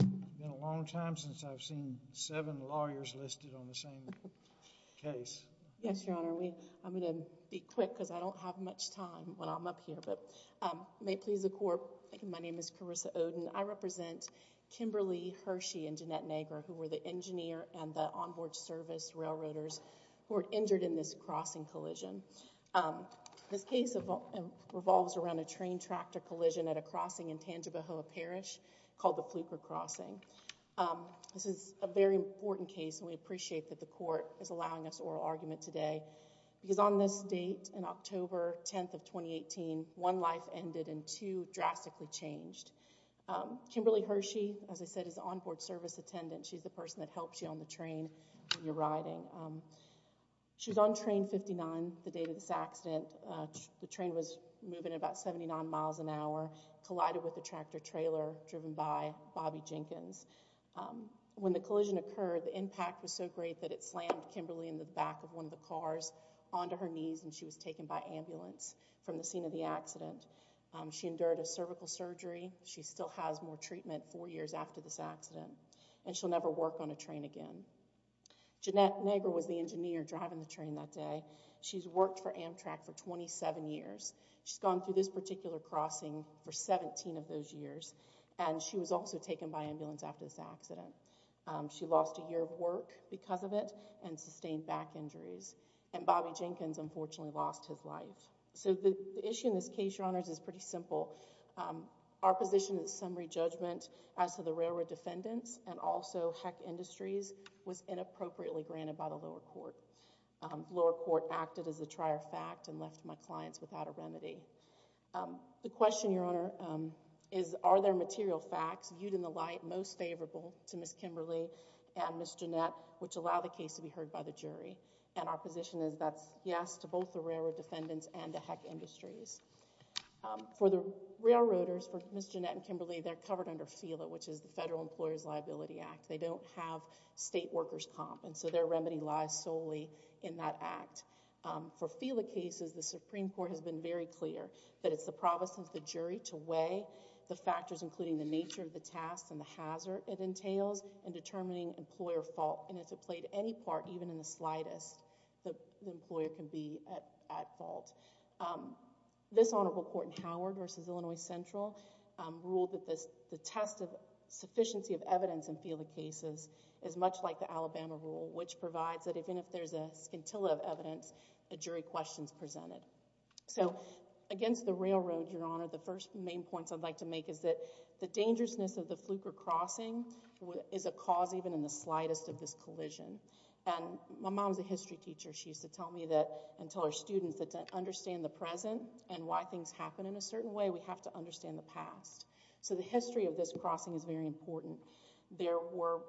It's been a long time since I've seen seven lawyers listed on the same case. Yes, your honor. I'm going to be quick because I don't have much time when I'm up here. May it please the court, my name is Carissa Oden. I represent Kimberly, Hershey, and Jeanette Negra, who were the engineer and the onboard service railroaders who were injured in this crossing collision. This case revolves around a train tractor collision at a crossing in Tangibahoa Parish called the Fluker Crossing. This is a very important case and we appreciate that the court is allowing us oral argument today because on this date in October 10th of 2018, one life ended and two drastically changed. Kimberly Hershey, as I said, is the onboard service attendant. She's the person that helps you on the train when you're riding. She was on train 59 the day of this accident. The train was moving at about 79 miles an hour, collided with a tractor trailer driven by Bobby Jenkins. When the collision occurred, the impact was so great that it slammed Kimberly in the back of one of the cars onto her knees and she was taken by ambulance from the scene of the accident. She endured a cervical surgery. She still has more treatment four years after this accident. And she'll never work on a train again. Jeanette Negger was the engineer driving the train that day. She's worked for Amtrak for 27 years. She's gone through this particular crossing for 17 of those years and she was also taken by ambulance after this accident. She lost a year of work because of it and sustained back injuries. And Bobby Jenkins unfortunately lost his life. So the issue in this case, Your Honors, is pretty simple. Our position is summary judgment as to the railroad defendants and also Heck Industries was inappropriately granted by the lower court. Lower court acted as a trier fact and left my clients without a remedy. The question, Your Honor, is are there material facts viewed in the light most favorable to Ms. Kimberly and Ms. Jeanette which allow the case to be heard by the jury? And our position is that's yes to both the railroad defendants and to Heck Industries. For the railroaders, for Ms. Jeanette and Kimberly, they're covered under FELA, which is the Federal Employer's Liability Act. They don't have state workers comp and so their remedy lies solely in that act. For FELA cases, the Supreme Court has been very clear that it's the providence of the jury to weigh the factors including the nature of the task and the hazard it entails in determining employer fault. And if it played any part, even in the slightest, the employer can be at fault. This Honorable Court in Howard v. Illinois Central ruled that the test of sufficiency of evidence in FELA cases is much like the Alabama rule which provides that even if there's a scintilla of evidence, a jury question is presented. So against the railroad, Your Honor, the first main points I'd like to make is that the dangerousness of the Fluker Crossing is a cause even in the slightest of this collision. And my mom's a history teacher. She used to tell me that and tell her students that to understand the present and why things happen in a certain way, we have to understand the past. So the history of this crossing is very important. There were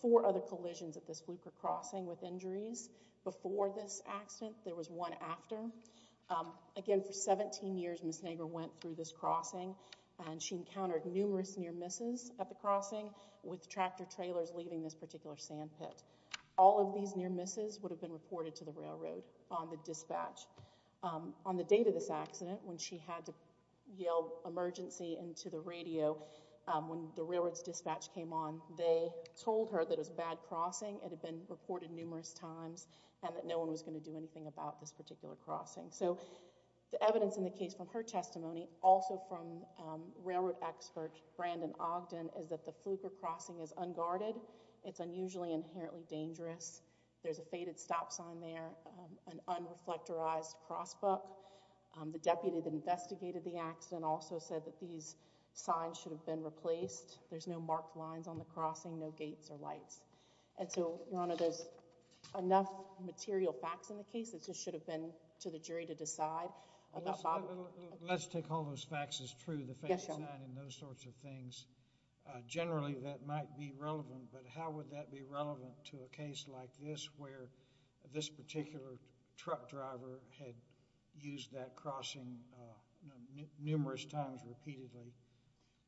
four other collisions at this Fluker Crossing with injuries. Before this accident, there was one after. Again, for 17 years, Ms. Nagler went through this crossing and she encountered numerous near misses at the crossing with tractor trailers leaving this particular sand pit. All of these near misses would have been reported to the railroad on the dispatch. On the date of this accident, when she had to yell emergency into the radio, when the railroad's dispatch came on, they told her that it was a bad crossing, it had been reported numerous times, and that no one was going to do anything about this particular crossing. So the evidence in the case from her testimony, also from railroad expert Brandon Ogden, is that the Fluker Crossing is unguarded, it's unusually inherently dangerous, there's a faded stop sign there, an unreflectorized crossbook. The deputy that investigated the accident also said that these signs should have been replaced. There's no marked lines on the crossing, no gates or lights. And so, Your Honor, there's enough material facts in the case, it just should have been to the jury to decide. Let's take all those facts as true, the faded sign and those sorts of things. Generally that might be relevant, but how would that be relevant to a case like this where this particular truck driver had used that crossing numerous times repeatedly?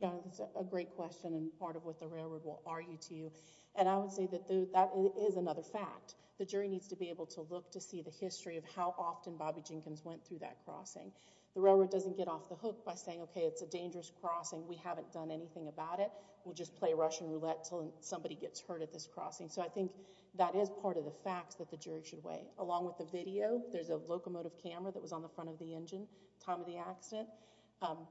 That's a great question and part of what the railroad will argue to you. And I would say that that is another fact. The jury needs to be able to look to see the history of how often Bobby Jenkins went through that crossing. The railroad doesn't get off the hook by saying, okay, it's a dangerous crossing, we haven't done anything about it, we'll just play Russian roulette until somebody gets hurt at this crossing. So I think that is part of the facts that the jury should weigh. Along with the video, there's a locomotive camera that was on the front of the engine at the time of the accident.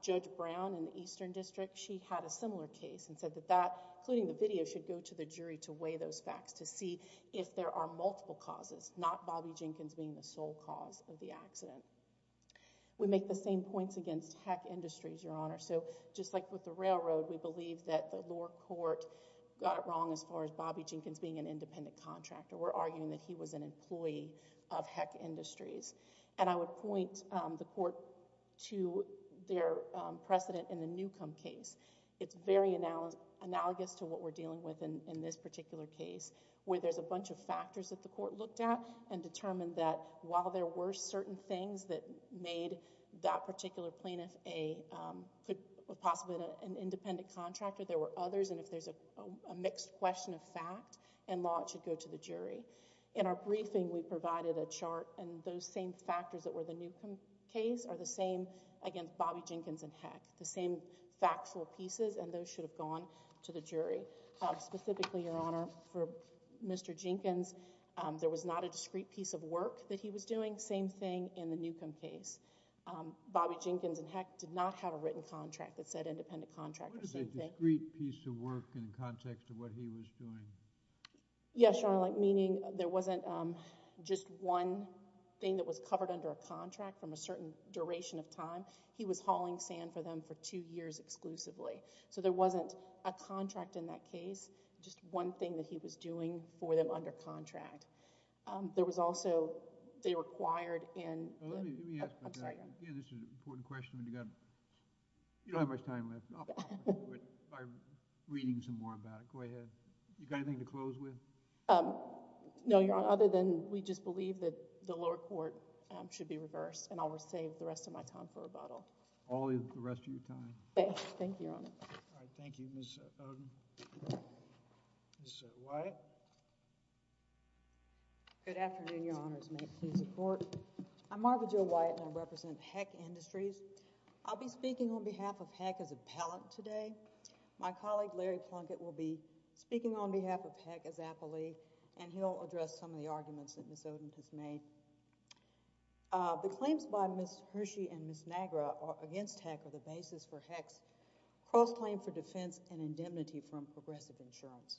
Judge Brown in the Eastern District, she had a similar case and said that that, including the video, should go to the jury to weigh those facts to see if there are multiple causes, not Bobby Jenkins being the sole cause of the accident. We make the same points against Heck Industries, Your Honor. So just like with the railroad, we believe that the lower court got it wrong as far as Bobby Jenkins being an independent contractor. We're arguing that he was an employee of Heck Industries. And I would point the court to their precedent in the Newcomb case. It's very analogous to what we're dealing with in this particular case where there's a bunch of factors that the court looked at and determined that while there were certain things that made that particular plaintiff possibly an independent contractor, there were others, and if there's a mixed question of fact and law, it should go to the jury. In our briefing, we provided a chart, and those same factors that were in the Newcomb case are the same against Bobby Jenkins and Heck, the same factual pieces, and those should have gone to the jury. Specifically, Your Honor, for Mr. Jenkins, there was not a discrete piece of work that he was doing, same thing in the Newcomb case. Bobby Jenkins and Heck did not have a written contract that said independent contractor. What is a discrete piece of work in the context of what he was doing? Yes, Your Honor, meaning there wasn't just one thing that was covered under a contract from a certain duration of time. He was hauling sand for them for two years exclusively, so there wasn't a contract in that case, just one thing that he was doing for them under contract. There was also, they required in... Let me ask you a question. You don't have much time left. I'm reading some more about it. Go ahead. You got anything to close with? No, Your Honor, other than we just believe that the lower court should be reversed and I'll save the rest of my time for rebuttal. All the rest of your time. Thank you, Your Honor. All right, thank you, Ms. Oden. Ms. Wyatt. Good afternoon, Your Honors. May it please the Court. I'm Margaret Jo Wyatt and I represent Heck Industries. I'll be speaking on behalf of Heck as appellant today. My colleague, Larry Plunkett, will be speaking on behalf of Heck as appellee and he'll address some of the arguments that Ms. Oden has made. The claims by Ms. Hershey and Ms. Nagra against Heck are the basis for Heck's cross-claim for defense and indemnity from Progressive Insurance.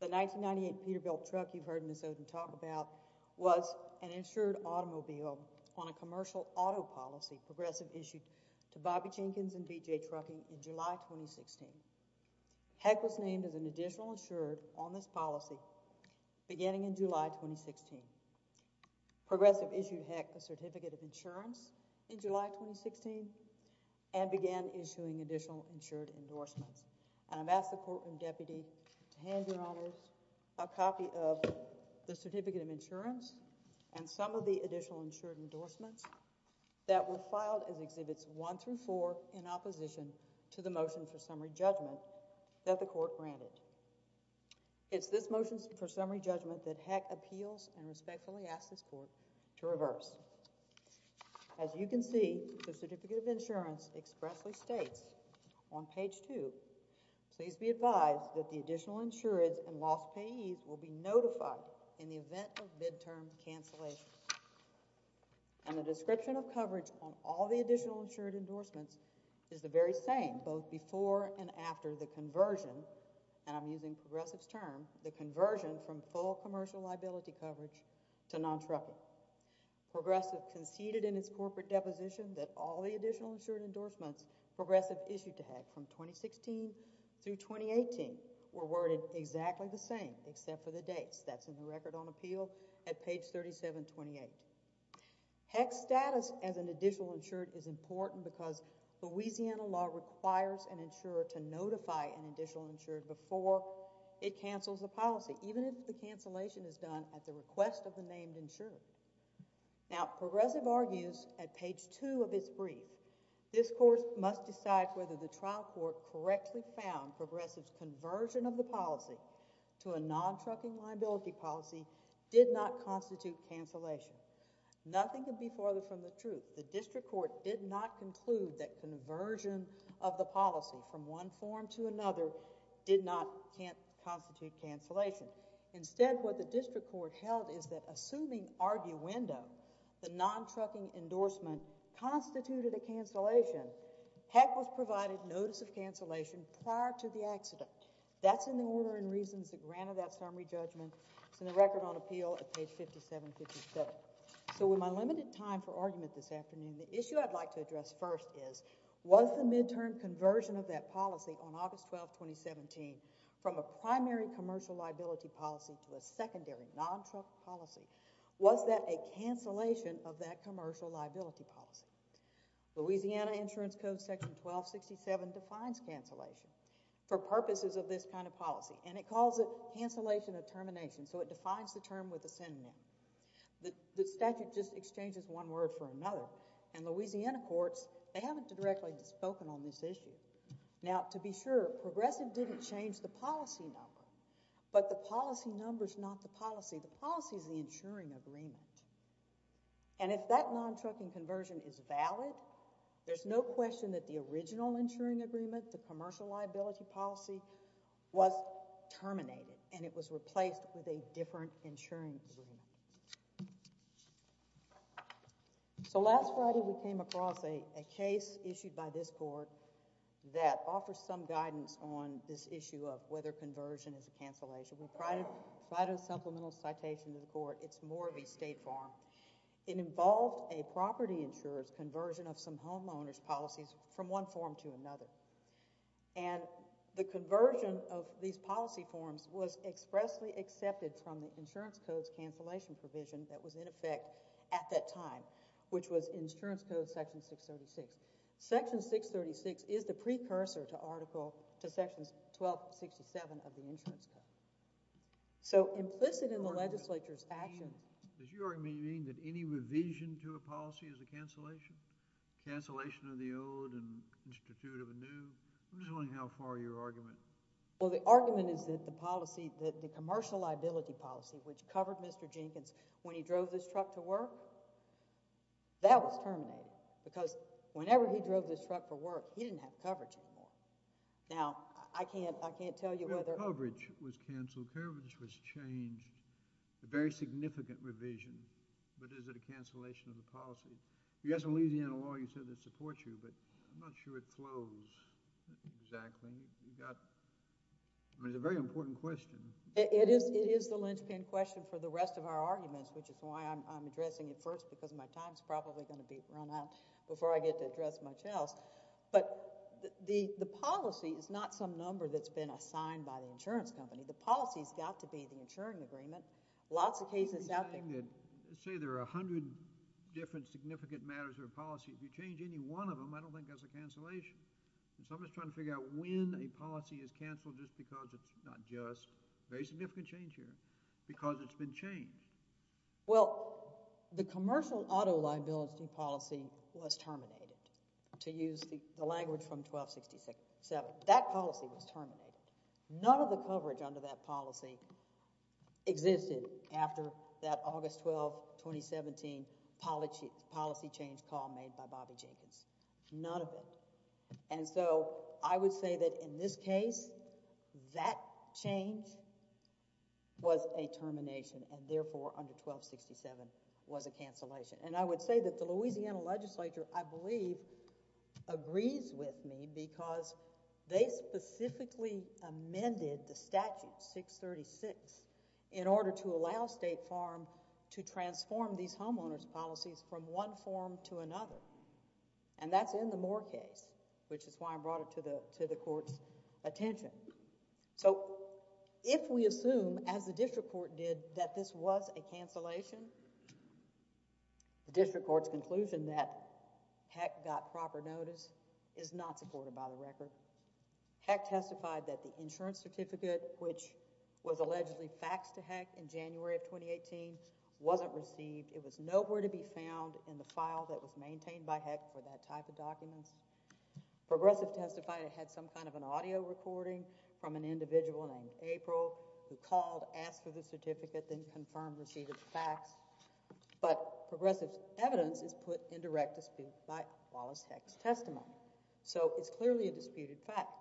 The 1998 Peterbilt truck you heard Ms. Oden talk about was an insured automobile on a commercial auto policy Progressive issued to Bobby Jenkins and B.J. Trucking in July 2016. Heck was named as an additional insured on this policy beginning in July 2016. Progressive issued Heck a certificate of insurance in July 2016 and began issuing additional insured endorsements. And I've asked the Court and Deputy to hand, Your Honors, a copy of the certificate of insurance and some of the additional insured endorsements that were filed as Exhibits 1 through 4 in opposition to the motion for summary judgment that the Court granted. It's this motion for summary judgment that Heck appeals and respectfully asks this Court to reverse. As you can see, the certificate of insurance expressly states on page 2, please be advised that the additional insureds and lost payees will be notified in the event of midterm cancellations. And the description of coverage on all the additional insured endorsements is the very same both before and after the conversion, and I'm using Progressive's term, the conversion from full commercial liability coverage to non-trucking. Progressive conceded in its corporate deposition that all the additional insured endorsements Progressive issued to Heck from 2016 through 2018 were worded exactly the same except for the dates. That's in the Record on Appeal at page 3728. Heck's status as an additional insured is important because Louisiana law requires an insurer to notify an additional insured before it cancels a policy, even if the cancellation is done at the request of the named insured. Now, Progressive argues at page 2 of its brief, this Court must decide whether the trial court correctly found that Progressive's conversion of the policy to a non-trucking liability policy did not constitute cancellation. Nothing could be further from the truth. The district court did not conclude that conversion of the policy from one form to another did not constitute cancellation. Instead, what the district court held is that assuming arguendo, the non-trucking endorsement constituted a cancellation, Heck was provided notice of cancellation prior to the accident. That's in the order and reasons that granted that summary judgment. It's in the Record on Appeal at page 5757. So with my limited time for argument this afternoon, the issue I'd like to address first is, was the midterm conversion of that policy on August 12, 2017, from a primary commercial liability policy to a secondary non-truck policy, was that a cancellation of that commercial liability policy? Louisiana Insurance Code section 1267 defines cancellation for purposes of this kind of policy, and it calls it cancellation of termination, so it defines the term with a synonym. The statute just exchanges one word for another, and Louisiana courts, they haven't directly spoken on this issue. Now, to be sure, Progressive didn't change the policy number, but the policy number's not the policy. The policy's the insuring agreement. And if that non-trucking conversion is valid, there's no question that the original insuring agreement, the commercial liability policy, was terminated, and it was replaced with a different insuring agreement. So last Friday, we came across a case issued by this court that offers some guidance on this issue of whether conversion is a cancellation. We'll provide a supplemental citation to the court. It's more of a state form. It involved a property insurer's conversion of some homeowners' policies from one form to another, and the conversion of these policy forms was expressly accepted from the Insurance Code's cancellation provision that was in effect at that time, which was Insurance Code section 636. Section 636 is the precursor to article, to sections 1267 of the Insurance Code. So implicit in the legislature's action... Does your argument mean that any revision to a policy is a cancellation? Cancellation of the old and institute of a new? I'm just wondering how far your argument... Well, the argument is that the policy, that the commercial liability policy, which covered Mr. Jenkins when he drove this truck to work, that was terminated, because whenever he drove this truck for work, he didn't have coverage anymore. Now, I can't tell you whether... ...cancel coverage was changed. A very significant revision. But is it a cancellation of the policy? You guys from Louisiana Law, you said they support you, but I'm not sure it flows exactly. You got... I mean, it's a very important question. It is the linchpin question for the rest of our arguments, which is why I'm addressing it first, because my time's probably going to be run out before I get to address much else. But the policy is not some number that's been assigned by the insurance company. The policy's got to be the insuring agreement. Lots of cases out there... Say there are 100 different significant matters of policy. If you change any one of them, I don't think that's a cancellation. Someone's trying to figure out when a policy is canceled just because it's not just... Very significant change here. Because it's been changed. Well, the commercial auto liability policy was terminated, to use the language from 1266. That policy was terminated. None of the coverage under that policy existed after that August 12, 2017, policy change call made by Bobby Jenkins. None of it. And so I would say that in this case, that change was a termination, and therefore under 1267 was a cancellation. And I would say that the Louisiana legislature, I believe, agrees with me because they specifically amended the statute 636 in order to allow State Farm to transform these homeowners' policies from one form to another. And that's in the Moore case, which is why I brought it to the court's attention. So if we assume, as the district court did, that this was a cancellation, the district court's conclusion that Heck got proper notice is not supported by the record. Heck testified that the insurance certificate, which was allegedly faxed to Heck in January of 2018, wasn't received. It was nowhere to be found in the file that was maintained by Heck for that type of document. Progressive testified it had some kind of an audio recording from an individual named April, who called, asked for the certificate, then confirmed receipt of the fax. But progressive's evidence is put in direct dispute by Wallace Heck's testimony. So it's clearly a disputed fact.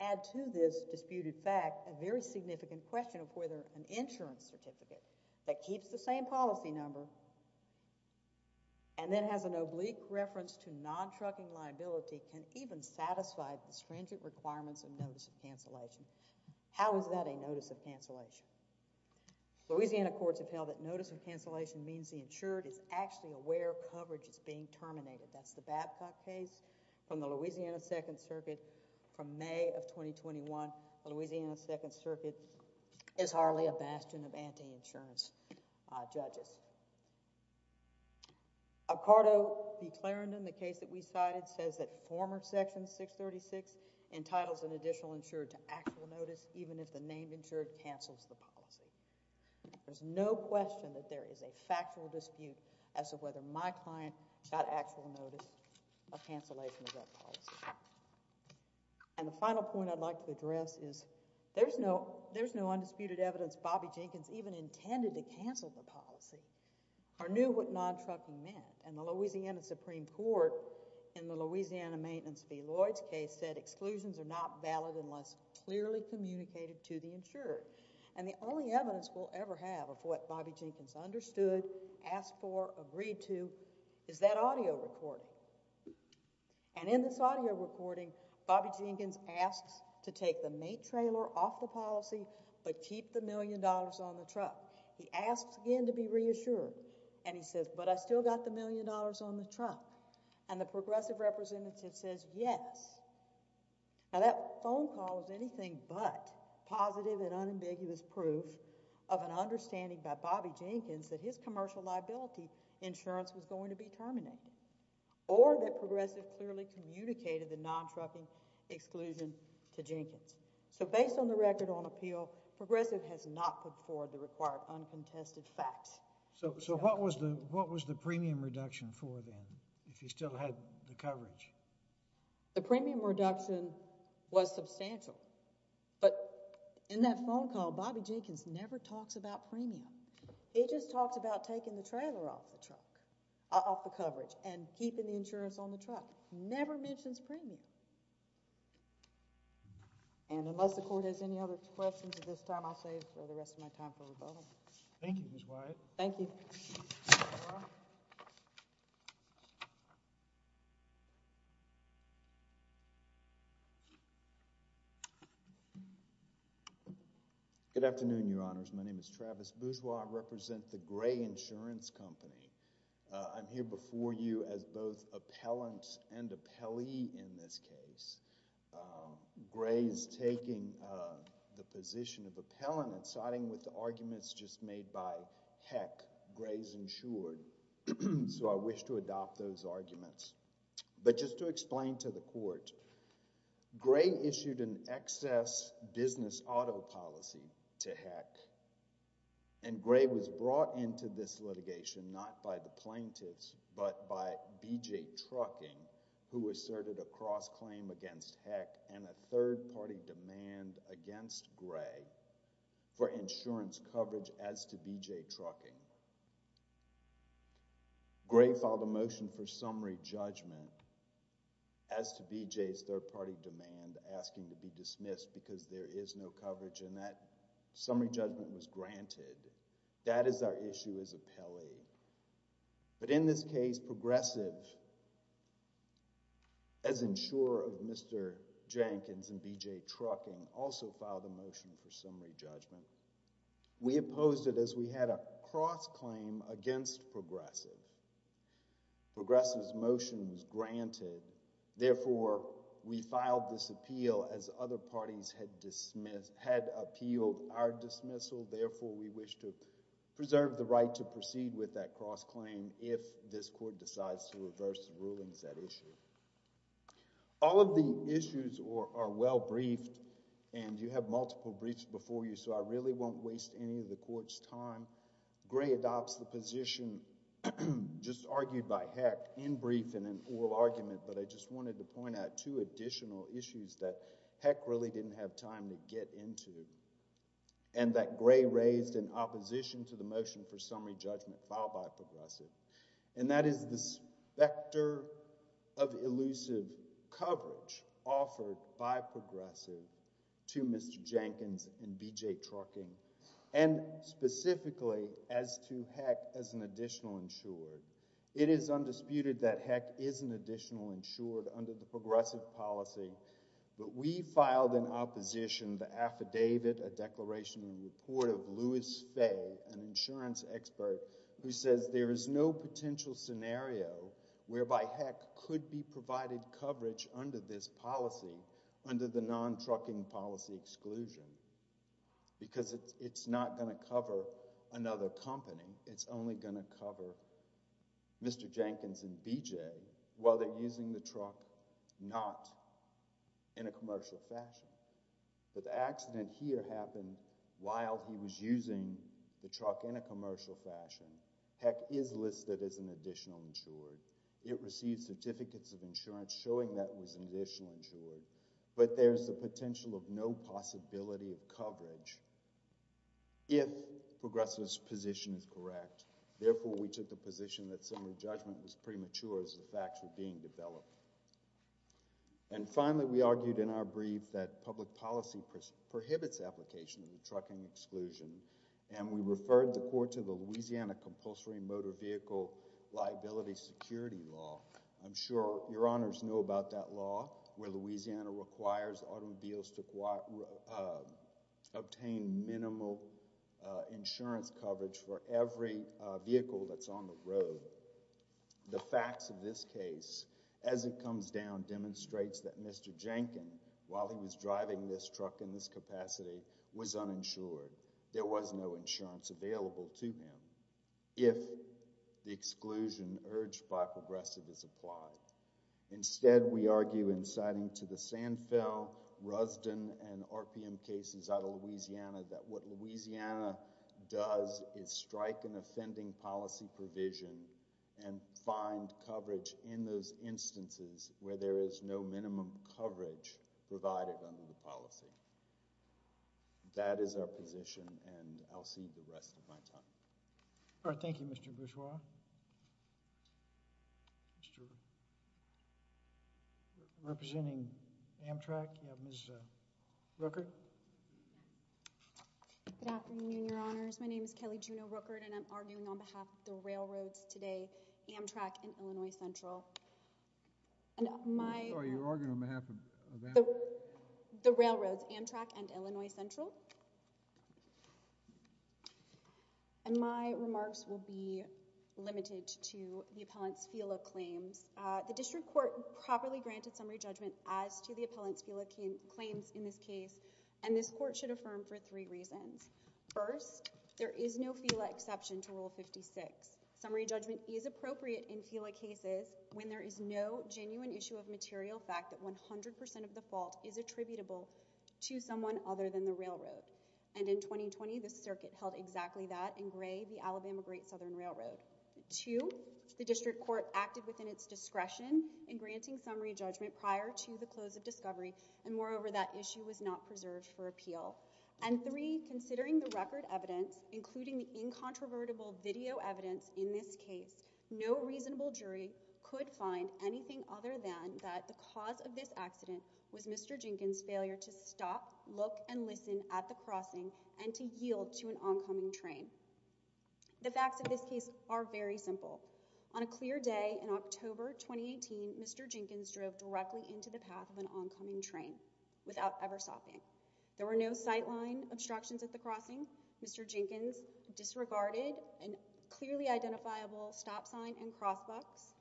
Add to this disputed fact a very significant question of whether an insurance certificate that keeps the same policy number and then has an oblique reference to non-trucking liability can even satisfy the stringent requirements of notice of cancellation. How is that a notice of cancellation? Louisiana courts have held that notice of cancellation means the insured is actually aware of coverage that's being terminated. That's the Babcock case from the Louisiana Second Circuit from May of 2021. The Louisiana Second Circuit is hardly a bastion of anti-insurance judges. Occardo v. Clarendon, the case that we cited, says that former Section 636 entitles an additional insured to actual notice even if the named insured cancels the policy. There's no question that there is a factual dispute as to whether my client got actual notice of cancellation of that policy. And the final point I'd like to address is there's no undisputed evidence Bobby Jenkins even intended to cancel the policy or knew what non-trucking meant. And the Louisiana Supreme Court in the Louisiana Maintenance v. Lloyd's case has said exclusions are not valid unless clearly communicated to the insured. And the only evidence we'll ever have of what Bobby Jenkins understood, asked for, agreed to, is that audio recording. And in this audio recording, Bobby Jenkins asks to take the mate trailer off the policy but keep the million dollars on the truck. He asks again to be reassured. And he says, but I still got the million dollars on the truck. And the progressive representative says yes. Now that phone call is anything but positive and unambiguous proof of an understanding by Bobby Jenkins that his commercial liability insurance was going to be terminated. Or that progressive clearly communicated the non-trucking exclusion to Jenkins. So based on the record on appeal, progressive has not put forward the required uncontested facts. So what was the premium reduction for then, if he still had the coverage? The premium reduction was substantial. But in that phone call, Bobby Jenkins never talks about premium. He just talks about taking the trailer off the truck, off the coverage, and keeping the insurance on the truck. Never mentions premium. And unless the court has any other questions at this time, I'll save the rest of my time for rebuttal. Thank you, Ms. Wyatt. Thank you. Good afternoon, Your Honors. My name is Travis Bourgeois. I represent the Gray Insurance Company. I'm here before you as both appellant and appellee in this case. Gray is taking the position of appellant siding with the arguments just made by Heck. Gray's insured. So I wish to adopt those arguments. But just to explain to the court, Gray issued an excess business auto policy to Heck. And Gray was brought into this litigation not by the plaintiffs, but by B.J. Trucking, who asserted a cross-claim against Heck and a third-party demand against Gray for insurance coverage as to B.J. Trucking. Gray filed a motion for summary judgment as to B.J.'s third-party demand asking to be dismissed because there is no coverage, and that summary judgment was granted. That is our issue as appellee. But in this case, B.J. Progressive, as insurer of Mr. Jenkins and B.J. Trucking, also filed a motion for summary judgment. We opposed it as we had a cross-claim against Progressive. Progressive's motion was granted. Therefore, we filed this appeal as other parties had appealed our dismissal. Therefore, we wish to preserve the right to proceed with that cross-claim if this Court decides to reverse the rulings at issue. All of the issues are well briefed, and you have multiple briefs before you, so I really won't waste any of the Court's time. Gray adopts the position just argued by Heck in brief in an oral argument, but I just wanted to point out two additional issues that Heck really didn't have time to get into and that Gray raised in opposition to the motion for summary judgment filed by Progressive, and that is the specter of elusive coverage offered by Progressive to Mr. Jenkins and B.J. Trucking, and specifically as to Heck as an additional insured. It is undisputed that Heck is an additional insured under the Progressive policy, but we filed in opposition the affidavit, a declaration and report of Louis Fay, an insurance expert, who says there is no potential scenario whereby Heck could be provided coverage under this policy, under the non-trucking policy exclusion, because it's not going to cover another company. It's only going to cover Mr. Jenkins and B.J. while they're using the truck not in a commercial fashion. But the accident here happened while he was using the truck in a commercial fashion. Heck is listed as an additional insured. It received certificates of insurance showing that it was an additional insured, but there's the potential of no possibility of coverage if Progressive's position is correct. Therefore, we took the position that summary judgment was premature as the facts were being developed. And finally, we argued in our brief that public policy prohibits application of the trucking exclusion, and we referred the court to the Louisiana Compulsory Motor Vehicle Liability Security Law. I'm sure your honors know about that law, where Louisiana requires automobiles to obtain minimal insurance coverage for every vehicle that's on the road. The facts of this case, as it comes down, demonstrates that Mr. Jenkins, while he was driving this truck in this capacity, was uninsured. There was no insurance available to him if the exclusion urged by Progressive is applied. Instead, we argue in citing to the Sanfel, Rusden, and RPM cases out of Louisiana that what Louisiana does is strike an offending policy provision and find coverage in those instances where there is no minimum coverage provided under the policy. That is our position, and I'll cede the rest of my time. All right, thank you, Mr. Bourgeois. Representing Amtrak, you have Ms. Rooker. Good afternoon, your honors. My name is Kelly Juneau Rooker, and I'm arguing on behalf of the railroads today, Amtrak and Illinois Central. I'm sorry, you're arguing on behalf of Amtrak? The railroads, Amtrak and Illinois Central. My remarks will be limited to the appellant's FILA claims. The district court properly granted summary judgment as to the appellant's FILA claims in this case, and this court should affirm for three reasons. First, there is no FILA exception to Rule 56. Summary judgment is appropriate in FILA cases when there is no genuine issue of material fact that 100% of the fault is attributable to someone other than the railroad. And in 2020, the circuit held exactly that in Gray v. Alabama Great Southern Railroad. Two, the district court acted within its discretion in granting summary judgment prior to the close of discovery, and moreover, that issue was not preserved for appeal. And three, considering the record evidence, including the incontrovertible video evidence in this case, no reasonable jury could find anything other than that the cause of this accident was Mr. Jenkins' failure to stop, look, and listen at the crossing and to yield to an oncoming train. The facts of this case are very simple. On a clear day in October 2018, Mr. Jenkins drove directly into the path of an oncoming train without ever stopping. There were no sightline obstructions at the crossing. Mr. Jenkins disregarded a clearly identifiable stop sign and crosswalks,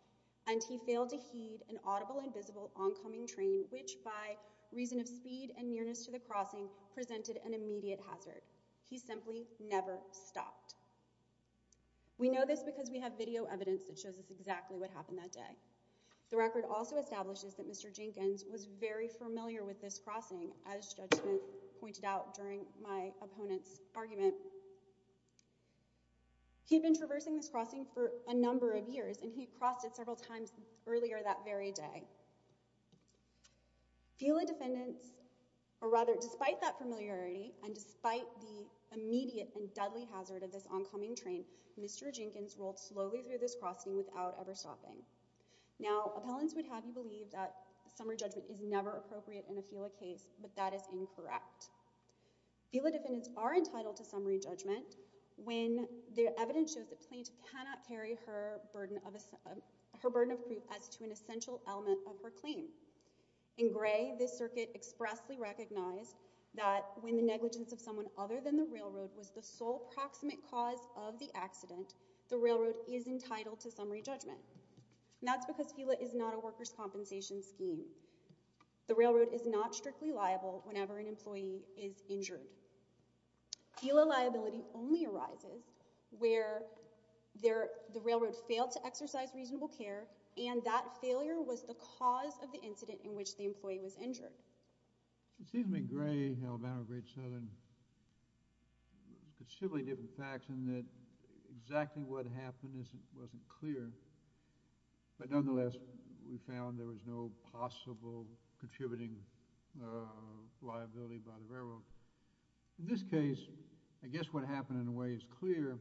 and he failed to heed an audible and visible oncoming train, which, by reason of speed and nearness to the crossing, presented an immediate hazard. He simply never stopped. We know this because we have video evidence that shows us exactly what happened that day. The record also establishes that Mr. Jenkins was very familiar with this crossing. As Judge Smith pointed out during my opponent's argument, he had been traversing this crossing for a number of years, and he had crossed it several times earlier that very day. Fela defendants, or rather, despite that familiarity and despite the immediate and deadly hazard of this oncoming train, Mr. Jenkins rolled slowly through this crossing without ever stopping. Now, appellants would have you believe that summary judgment is never appropriate in a Fela case, but that is incorrect. Fela defendants are entitled to summary judgment when the evidence shows that plaintiff cannot carry her burden of proof as to an essential element of her claim. In gray, this circuit expressly recognized that when the negligence of someone other than the railroad was the sole proximate cause of the accident, the railroad is entitled to summary judgment. And that's because Fela is not a workers' compensation scheme. The railroad is not strictly liable whenever an employee is injured. Fela liability only arises where the railroad failed to exercise reasonable care, and that failure was the cause of the incident in which the employee was injured. It seems to me gray, Alabama, Great Southern, there's considerably different facts in that exactly what happened wasn't clear, but nonetheless we found there was no possible contributing liability by the railroad. In this case, I guess what happened in a way is clear,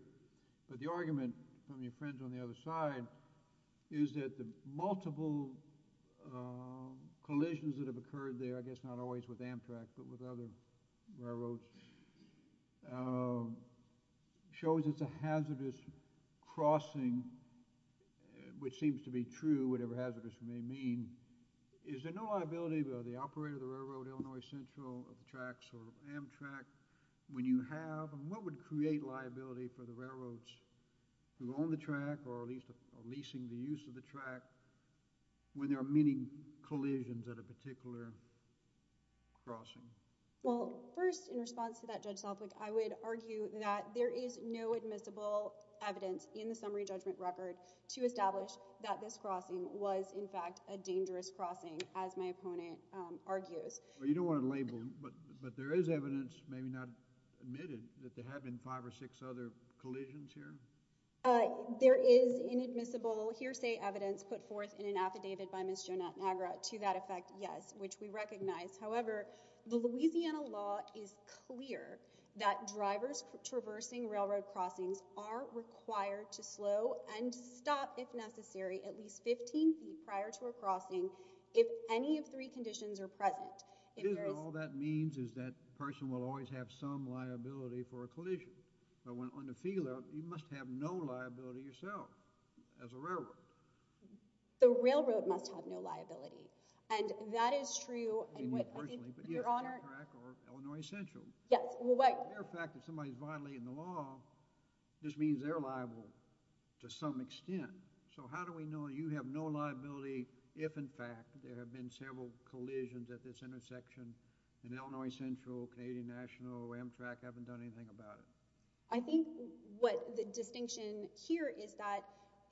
but the argument from your friends on the other side is that the multiple collisions that have occurred there, I guess not always with Amtrak, but with other railroads, shows it's a hazardous crossing, which seems to be true, whatever hazardous may mean. Is there no liability by the operator of the railroad, Illinois Central, of the tracks or Amtrak, when you have, and what would create liability for the railroads who own the track or are leasing the use of the track when there are many collisions at a particular crossing? Well, first, in response to that, Judge Selfick, I would argue that there is no admissible evidence in the summary judgment record to establish that this crossing was, in fact, a dangerous crossing, as my opponent argues. Well, you don't want to label, but there is evidence, maybe not admitted, that there have been five or six other collisions here? There is inadmissible hearsay evidence put forth in an affidavit by Ms. Jonathan-Agra to that effect, yes, which we recognize. However, the Louisiana law is clear that drivers traversing railroad crossings are required to slow and stop, if necessary, at least 15 feet prior to a crossing if any of three conditions are present. All that means is that person will always have some liability for a collision. But on the field, you must have no liability yourself as a railroad. The railroad must have no liability, and that is true. I mean that personally, but you have Amtrak or Illinois Central. Yes, well, wait. The mere fact that somebody's violating the law just means they're liable to some extent. So how do we know you have no liability if, in fact, there have been several collisions at this intersection, and Illinois Central, Canadian National, Amtrak haven't done anything about it? I think what the distinction here is that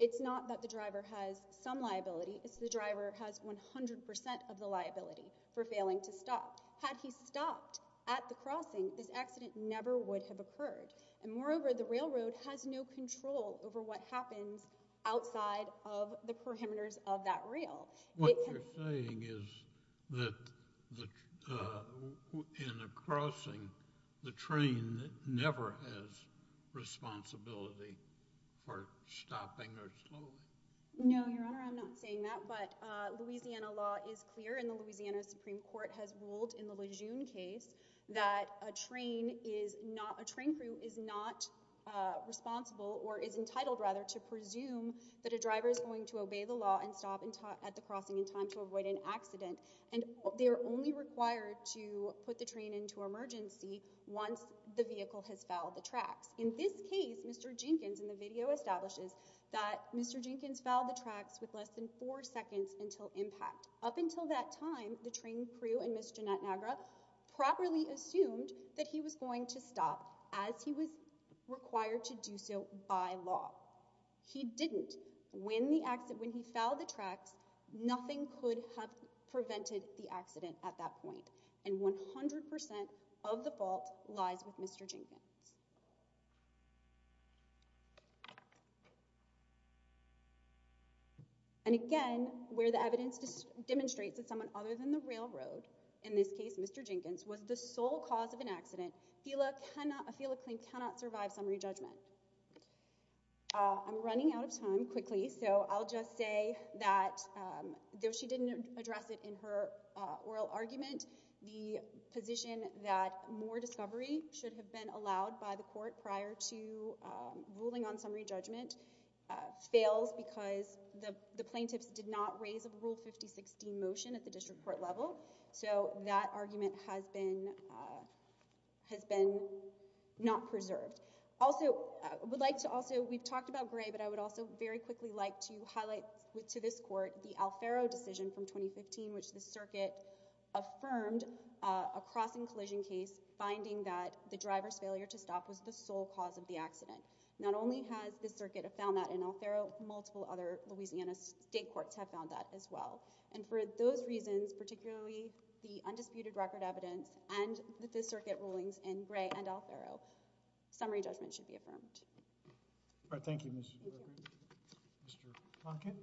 it's not that the driver has some liability. It's the driver has 100% of the liability for failing to stop. Had he stopped at the crossing, this accident never would have occurred. And moreover, the railroad has no control over what happens outside of the perimeters of that rail. What you're saying is that in a crossing, the train never has responsibility for stopping or slowing. No, Your Honor, I'm not saying that, but Louisiana law is clear, and the Louisiana Supreme Court has ruled in the Lejeune case that a train crew is not responsible or is entitled, rather, to presume that a driver is going to obey the law and stop at the crossing in time to avoid an accident. And they're only required to put the train into emergency once the vehicle has fouled the tracks. In this case, Mr. Jenkins, in the video, establishes that Mr. Jenkins fouled the tracks with less than four seconds until impact. Up until that time, the train crew and Ms. Jeanette Nagra properly assumed that he was going to stop as he was required to do so by law. He didn't. When he fouled the tracks, nothing could have prevented the accident at that point, and 100% of the fault lies with Mr. Jenkins. And again, where the evidence demonstrates that someone other than the railroad, in this case, Mr. Jenkins, was the sole cause of an accident, a FELA claim cannot survive summary judgment. I'm running out of time quickly, so I'll just say that, though she didn't address it in her oral argument, the position that more discovery should have been allowed by the court prior to ruling on summary judgment fails because the plaintiffs did not raise a Rule 5016 motion at the district court level. So that argument has been... has been not preserved. Also, I would like to also... I would like to highlight to this court the Alfaro decision from 2015, which the circuit affirmed a crossing-collision case, finding that the driver's failure to stop was the sole cause of the accident. Not only has the circuit found that in Alfaro, multiple other Louisiana state courts have found that as well. And for those reasons, particularly the undisputed record evidence and the circuit rulings in Gray and Alfaro, summary judgment should be affirmed. All right. Thank you, Mr. Plunkett. Mr. Plunkett.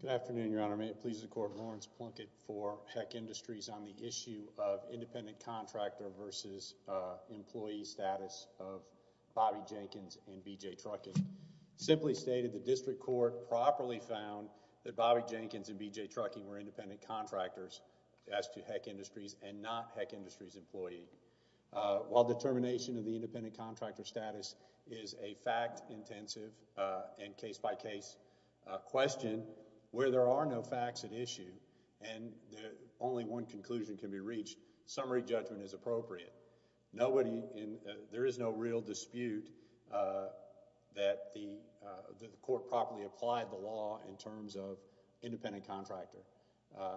Good afternoon, Your Honor. May it please the court, Lawrence Plunkett for Heck Industries on the issue of independent contractor versus employee status of Bobby Jenkins and B.J. Trucking. Simply stated, the district court properly found that Bobby Jenkins and B.J. Trucking were independent contractors as to Heck Industries and not Heck Industries' employee. While determination of the independent contractor status is a fact-intensive and case-by-case question where there are no facts at issue and only one conclusion can be reached, summary judgment is appropriate. There is no real dispute that the court properly applied the law in terms of independent contractor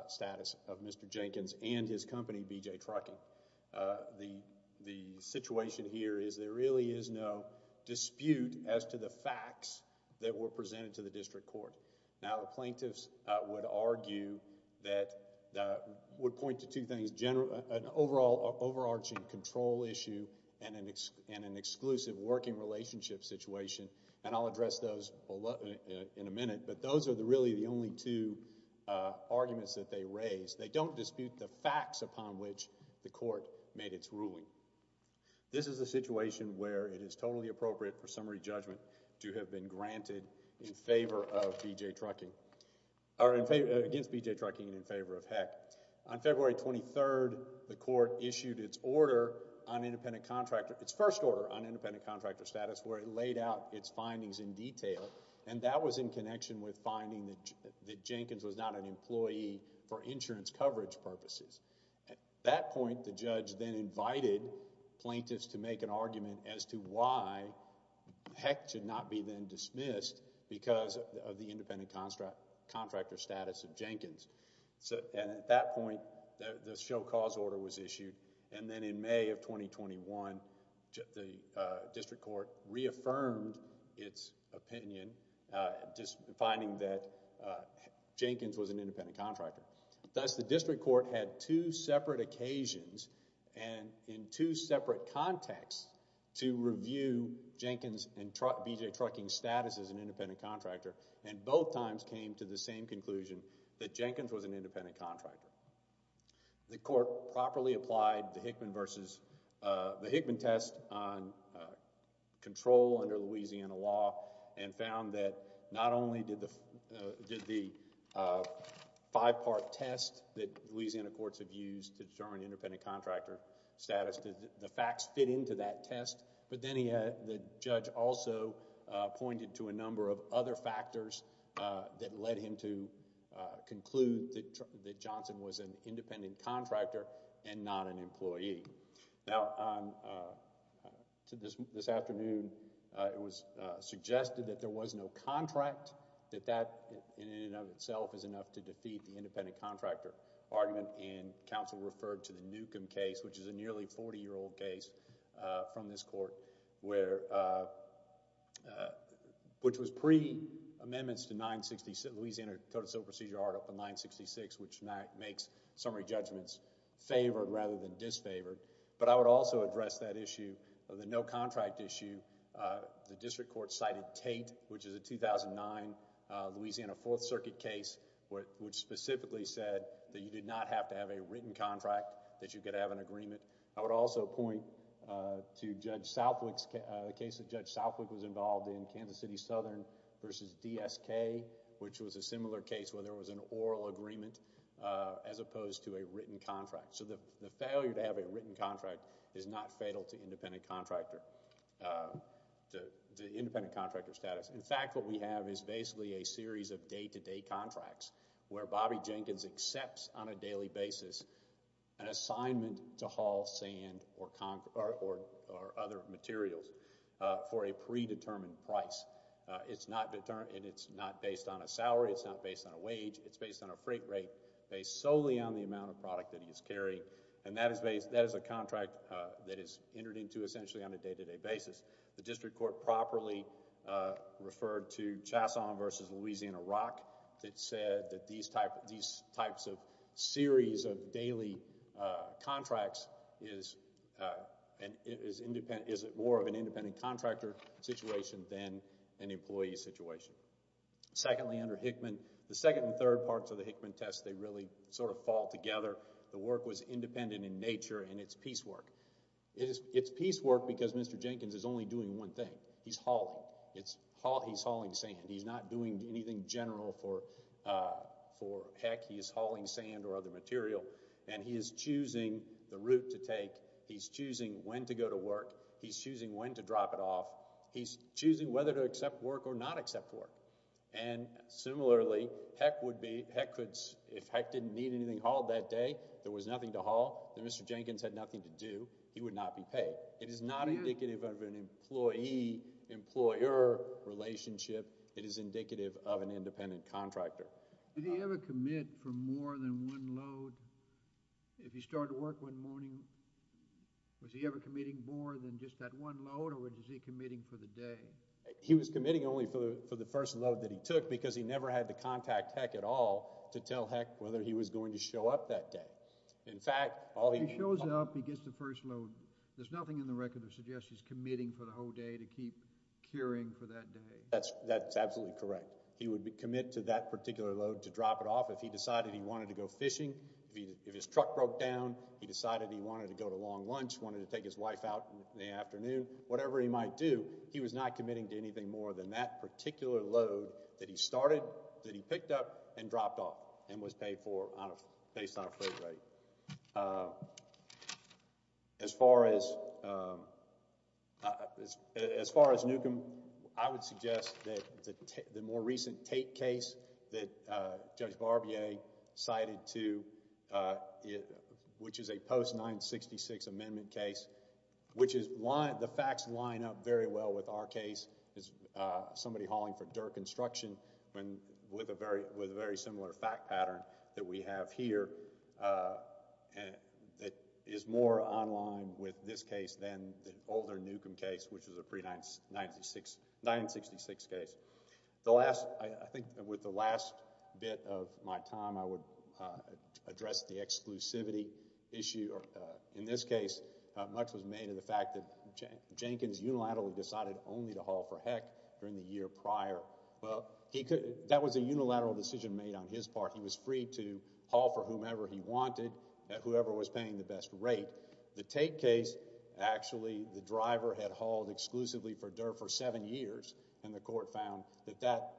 status of Mr. Jenkins and his company, B.J. Trucking. The situation here is there really is no dispute as to the facts that were presented to the district court. Now, the plaintiffs would point to two things, an overarching control issue and an exclusive working relationship situation, and I'll address those in a minute, but those are really the only two arguments that they raise. They don't dispute the facts upon which the court made its ruling. This is a situation where it is totally appropriate for summary judgment to have been granted in favor of B.J. Trucking, or against B.J. Trucking and in favor of Heck. On February 23rd, the court issued its order on independent contractor, its first order on independent contractor status where it laid out its findings in detail, and that was in connection with finding that Jenkins was not an employee for insurance coverage purposes. At that point, the judge then invited plaintiffs to make an argument as to why Heck should not be then dismissed because of the independent contractor status of Jenkins. And at that point, the show cause order was issued, and then in May of 2021, the district court reaffirmed its opinion just finding that Jenkins was an independent contractor. Thus, the district court had two separate occasions and in two separate contexts to review Jenkins and B.J. Trucking's status as an independent contractor, and both times came to the same conclusion that Jenkins was an independent contractor. The court properly applied the Hickman versus the Hickman test on control under Louisiana law and found that not only did the five-part test that Louisiana courts have used to determine independent contractor status, the facts fit into that test, but then the judge also pointed to a number of other factors that led him to conclude that Johnson was an independent contractor and not an employee. Now, this afternoon, it was suggested that there was no contract, that that in and of itself is enough to defeat the independent contractor argument, and counsel referred to the Newcomb case, which is a nearly 40-year-old case from this court, which was pre-amendments to Louisiana Code of Civil Procedure Article 966, which makes summary judgments favored rather than disfavored, but I would also address that issue of the no contract issue. The district court cited Tate, which is a 2009 Louisiana Fourth Circuit case, which specifically said that you did not have to have a written contract, that you could have an agreement. I would also point to Judge Southwick's case. Judge Southwick was involved in Kansas City Southern versus DSK, which was a similar case where there was an oral agreement as opposed to a written contract. So the failure to have a written contract is not fatal to independent contractor status. In fact, what we have is basically a series of day-to-day contracts where Bobby Jenkins accepts on a daily basis an assignment to haul sand or other materials for a predetermined price. It's not based on a salary. It's not based on a wage. It's based on a freight rate based solely on the amount of product that he's carrying, and that is a contract that is entered into essentially on a day-to-day basis. The district court properly referred to Chasson versus Louisiana Rock that said that these types of series of daily contracts is more of an independent contractor situation than an employee situation. Secondly, under Hickman, the second and third parts of the Hickman test, they really sort of fall together. The work was independent in nature, and it's piecework. It's piecework because Mr. Jenkins is only doing one thing. He's hauling. He's hauling sand. He's not doing anything general for heck. He is hauling sand or other material, and he is choosing the route to take. He's choosing when to go to work. He's choosing when to drop it off. He's choosing whether to accept work or not accept work. And similarly, if heck didn't need anything hauled that day, there was nothing to haul, then Mr. Jenkins had nothing to do. He would not be paid. It is not indicative of an employee-employer relationship. It is indicative of an independent contractor. Did he ever commit for more than one load? If he started work one morning, was he ever committing more than just that one load, or was he committing for the day? He was committing only for the first load that he took because he never had to contact heck at all to tell heck whether he was going to show up that day. If he shows up, he gets the first load. There's nothing in the record that suggests he's committing for the whole day to keep curing for that day. That's absolutely correct. He would commit to that particular load to drop it off. If he decided he wanted to go fishing, if his truck broke down, he decided he wanted to go to Long Lunch, wanted to take his wife out in the afternoon, whatever he might do, he was not committing to anything more than that particular load that he started, that he picked up, and dropped off and was paid for based on a freight rate. As far as Newcomb, I would suggest that the more recent Tate case that Judge Barbier cited, which is a post-966 amendment case, which the facts line up very well with our case, somebody hauling for dirt construction with a very similar fact pattern that we have here that is more online with this case than the older Newcomb case, which is a pre-966 case. I think with the last bit of my time, I would address the exclusivity issue. In this case, much was made of the fact that Jenkins unilaterally decided only to haul for heck during the year prior. That was a unilateral decision made on his part. He was free to haul for whomever he wanted at whoever was paying the best rate. The Tate case, actually, the driver had hauled exclusively for dirt for seven years, and the court found that that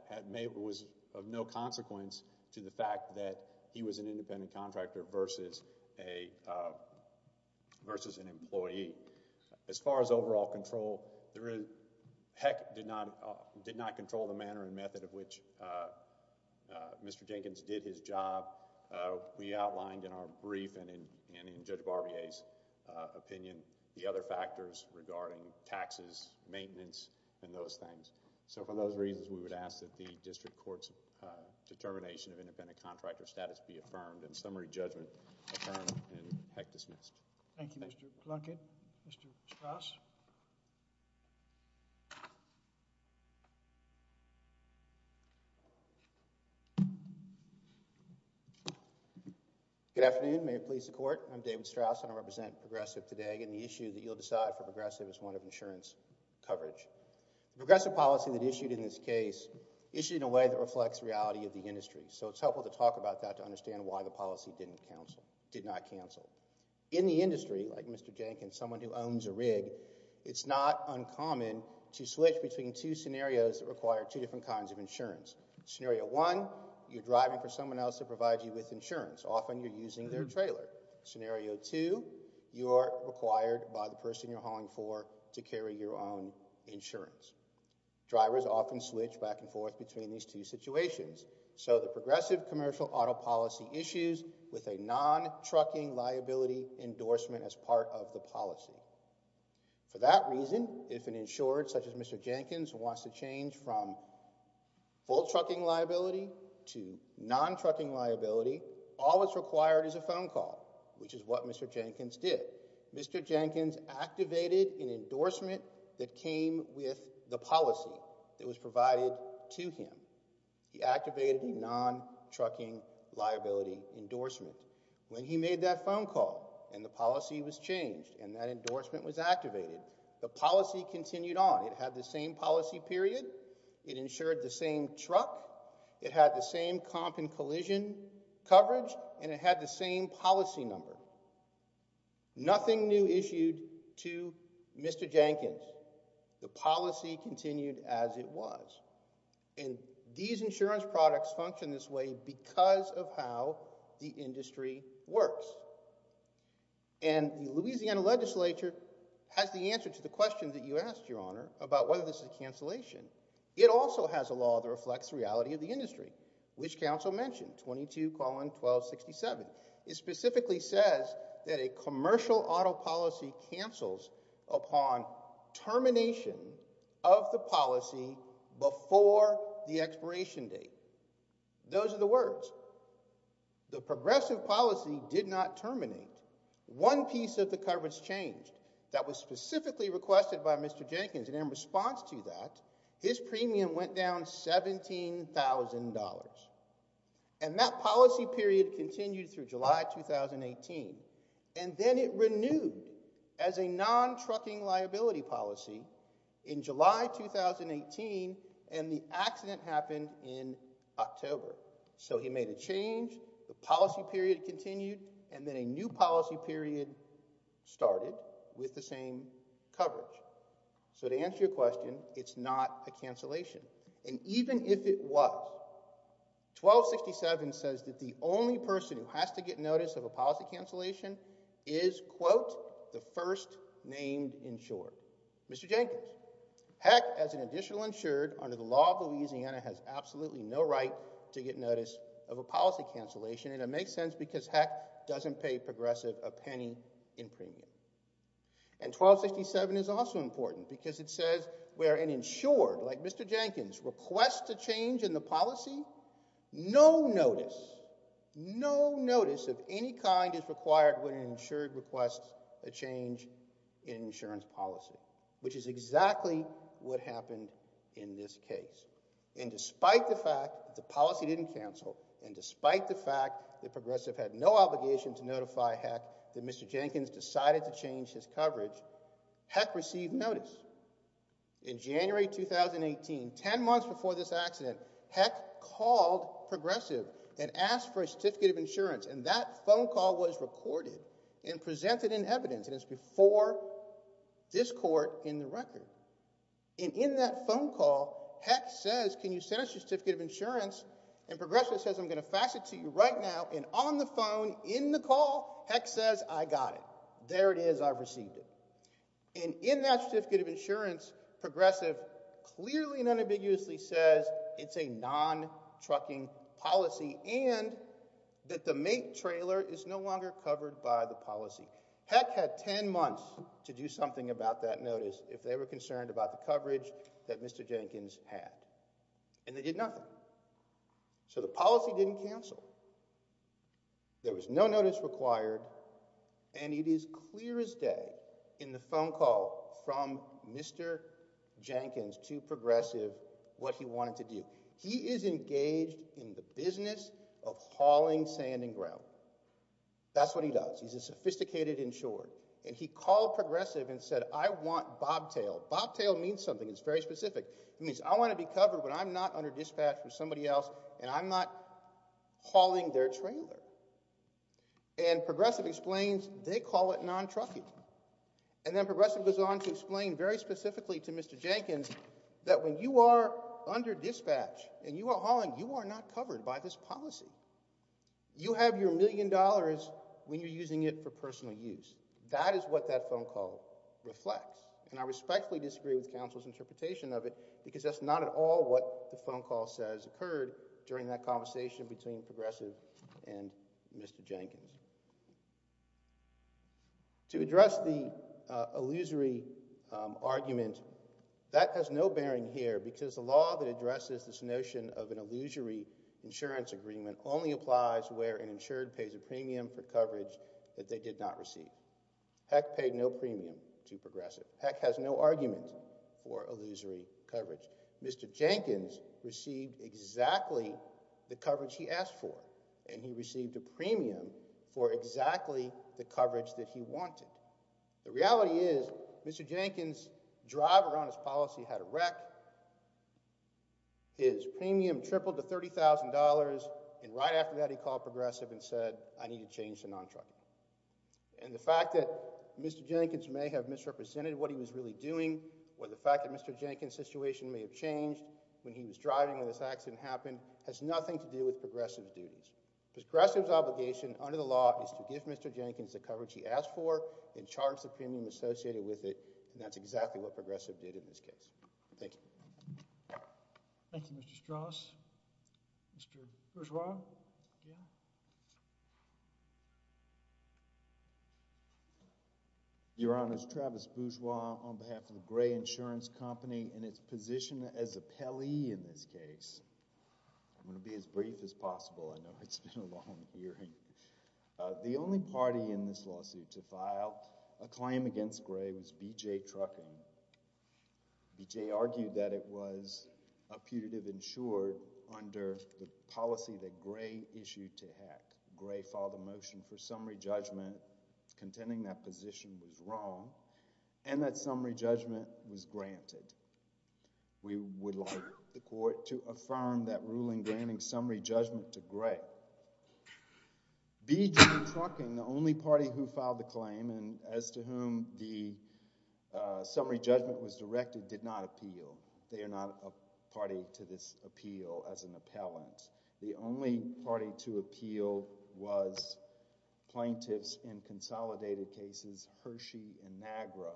was of no consequence to the fact that he was an independent contractor versus an employee. As far as overall control, Heck did not control the manner and method of which Mr. Jenkins did his job. We outlined in our brief and in Judge Barbier's opinion, the other factors regarding taxes, maintenance, and those things. For those reasons, we would ask that the district court's determination of independent contractor status be affirmed and summary judgment affirmed and Heck dismissed. Thank you, Mr. Blunkett. Mr. Strauss. Good afternoon. May it please the court. I'm David Strauss, and I represent Progressive today. And the issue that you'll decide for Progressive is one of insurance coverage. Progressive policy that issued in this case issued in a way that reflects reality of the industry. So it's helpful to talk about that to understand why the policy did not cancel. In the industry, like Mr. Jenkins, someone who owns a rig, it's not uncommon to switch between two scenarios that require two different kinds of insurance. Scenario one, you're driving for someone else to provide you with insurance. Often you're using their trailer. Scenario two, you're required by the person you're hauling for to carry your own insurance. Drivers often switch back and forth between these two situations. So the Progressive commercial auto policy issues with a non-trucking liability endorsement as part of the policy. For that reason, if an insurer such as Mr. Jenkins wants to change from full trucking liability to non-trucking liability, all that's required is a phone call, which is what Mr. Jenkins did. Mr. Jenkins activated an endorsement that came with the policy that was provided to him. He activated a non-trucking liability endorsement. When he made that phone call and the policy was changed and that endorsement was activated, the policy continued on. It had the same policy period. It insured the same truck. It had the same comp and collision coverage, and it had the same policy number. Nothing new issued to Mr. Jenkins. The policy continued as it was. These insurance products function this way because of how the industry works. The Louisiana legislature has the answer to the question that you asked, Your Honor, about whether this is a cancellation. It also has a law that reflects the reality of the industry, which counsel mentioned, 22-1267. It specifically says that a commercial auto policy cancels upon termination of the policy before the expiration date. Those are the words. The progressive policy did not terminate. One piece of the coverage changed that was specifically requested by Mr. Jenkins, and in response to that, his premium went down $17,000. That policy period continued through July 2018, and then it renewed as a non-trucking liability policy in July 2018, and the accident happened in October. So he made a change, the policy period continued, and then a new policy period started with the same coverage. So to answer your question, it's not a cancellation. And even if it was, 1267 says that the only person who has to get notice of a policy cancellation is, quote, the first named insured. Mr. Jenkins, heck, as an additional insured, under the law of Louisiana has absolutely no right to get notice of a policy cancellation, and it makes sense because, heck, doesn't pay progressive a penny in premium. And 1267 is also important because it says where an insured like Mr. Jenkins requests a change in the policy, no notice, no notice of any kind is required when an insured requests a change in insurance policy, which is exactly what happened in this case. And despite the fact that the policy didn't cancel, and despite the fact that progressive had no obligation to notify Heck that Mr. Jenkins decided to change his coverage, Heck received notice. In January 2018, 10 months before this accident, Heck called progressive and asked for a certificate of insurance, and that phone call was recorded and presented in evidence, and it's before this court in the record. And in that phone call, Heck says, can you send us your certificate of insurance? And progressive says, I'm going to fax it to you right now. And on the phone, in the call, Heck says, I got it. There it is. I've received it. And in that certificate of insurance, progressive clearly and unambiguously says it's a non-trucking policy and that the mate trailer is no longer covered by the policy. Heck had 10 months to do something about that notice if they were concerned about the coverage that Mr. Jenkins had. And they did nothing. So the policy didn't cancel. There was no notice required, and it is clear as day in the phone call from Mr. Jenkins to progressive what he wanted to do. He is engaged in the business of hauling sand and grout. That's what he does. He's a sophisticated insured. And he called progressive and said, I want bobtail. Bobtail means something that's very specific. It means I want to be covered when I'm not under dispatch from somebody else and I'm not hauling their trailer. And progressive explains they call it non-trucking. And then progressive goes on to explain very specifically to Mr. Jenkins that when you are under dispatch and you are hauling, you are not covered by this policy. You have your million dollars when you're using it for personal use. That is what that phone call reflects. And I respectfully disagree with counsel's interpretation of it because that's not at all what the phone call says occurred during that conversation between progressive and Mr. Jenkins. To address the illusory argument, that has no bearing here because the law that addresses this notion of an illusory insurance agreement only applies where an insured pays a premium for coverage that they did not receive. Peck paid no premium to progressive. Peck has no argument for illusory coverage. Mr. Jenkins received exactly the coverage he asked for and he received a premium for exactly the coverage that he wanted. The reality is Mr. Jenkins' drive around his policy had a wreck. His premium tripled to $30,000 and right after that he called progressive and said, I need to change to non-trucking. And the fact that Mr. Jenkins may have misrepresented what he was really doing or the fact that Mr. Jenkins' situation may have changed when he was driving when this accident happened has nothing to do with progressive's duties. Progressive's obligation under the law is to give Mr. Jenkins the coverage he asked for and charge the premium associated with it and that's exactly what progressive did in this case. Thank you. Thank you, Mr. Strauss. Mr. Bourgeois. Yeah. Your Honor, it's Travis Bourgeois on behalf of the Gray Insurance Company in its position as appellee in this case. I'm going to be as brief as possible. I know it's been a long hearing. The only party in this lawsuit to file a claim against Gray was B.J. Trucking. B.J. argued that it was a putative insured under the policy that Gray issued to Heck. Gray filed a motion for summary judgment contending that position was wrong and that summary judgment was granted. We would like the court to affirm that ruling granting summary judgment to Gray. B.J. Trucking, the only party who filed the claim and as to whom the summary judgment was directed, did not appeal. They are not a party to this appeal as an appellant. The only party to appeal was plaintiffs in consolidated cases Hershey and Nagra.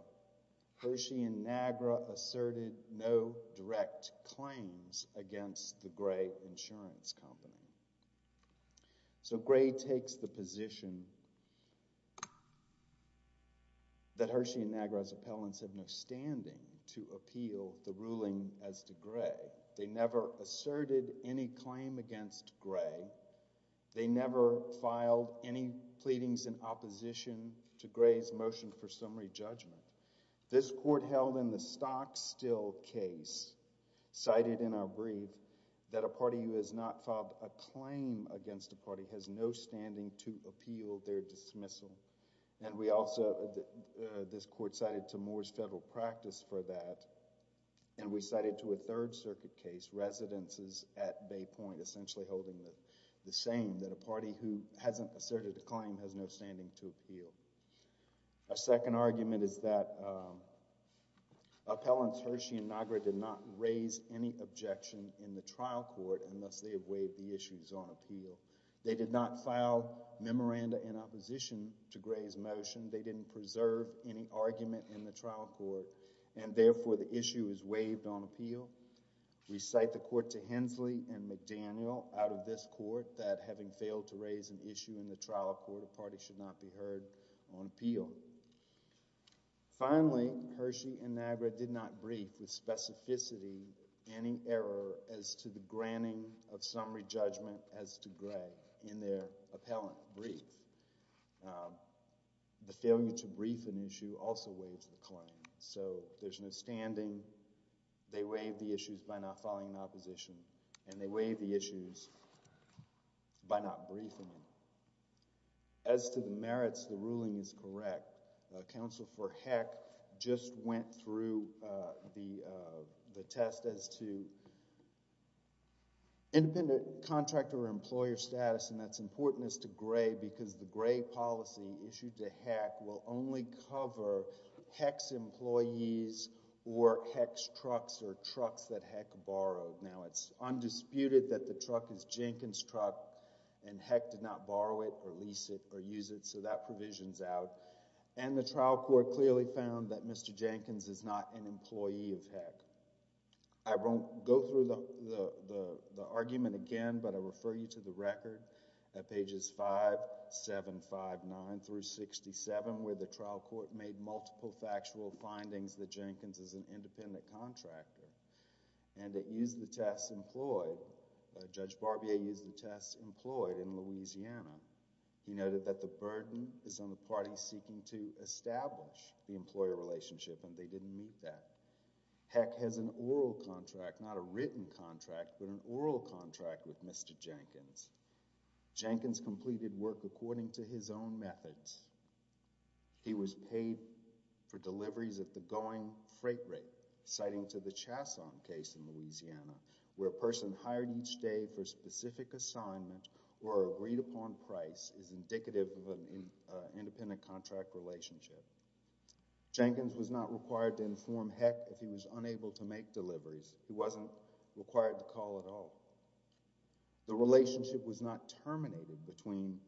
Hershey and Nagra asserted no direct claims against the Gray Insurance Company. So Gray takes the position that Hershey and Nagra as appellants have no standing to appeal the ruling as to Gray. They never asserted any claim against Gray. They never filed any pleadings in opposition to Gray's motion for summary judgment. This court held in the Stockstill case, cited in our brief, that a party who has not filed a claim against a party has no standing to appeal their dismissal. And we also, this court cited to Moore's federal practice for that, and we cited to a Third Circuit case, residences at Bay Point, essentially holding the same, that a party who hasn't asserted a claim has no standing to appeal. Our second argument is that appellants Hershey and Nagra did not raise any objection in the trial court unless they have waived the issues on appeal. They did not file memoranda in opposition to Gray's motion. They didn't preserve any argument in the trial court, and therefore the issue is waived on appeal. We cite the court to Hensley and McDaniel out of this court, that having failed to raise an issue in the trial court, a party should not be heard on appeal. Finally, Hershey and Nagra did not brief with specificity any error as to the granting of summary judgment as to Gray in their appellant brief. The failure to brief an issue also waives the claim. So there's no standing, they waive the issues by not filing in opposition, and they waive the issues by not briefing. As to the merits, the ruling is correct. Counsel for Heck just went through the test as to the independent contractor employer status, and that's important as to Gray because the Gray policy issued to Heck will only cover Heck's employees or Heck's trucks or trucks that Heck borrowed. Now, it's undisputed that the truck is Jenkins' truck, and Heck did not borrow it or lease it or use it, so that provision's out. And the trial court clearly found that Mr. Jenkins is not an employee of Heck. I won't go through the argument again, but I'll refer you to the record at pages 5, 7, 5, 9 through 67 where the trial court made multiple factual findings that Jenkins is an independent contractor and that used the tests employed. Judge Barbier used the tests employed in Louisiana. He noted that the burden is on the parties seeking to establish the employer relationship, and they didn't meet that. Heck has an oral contract, not a written contract, but an oral contract with Mr. Jenkins. Jenkins completed work according to his own methods. He was paid for deliveries at the going freight rate, citing to the Chasson case in Louisiana where a person hired each day for a specific assignment or agreed-upon price is indicative of an independent contract relationship. Jenkins was not required to inform Heck if he was unable to make deliveries. He wasn't required to call at all. The relationship was not terminated between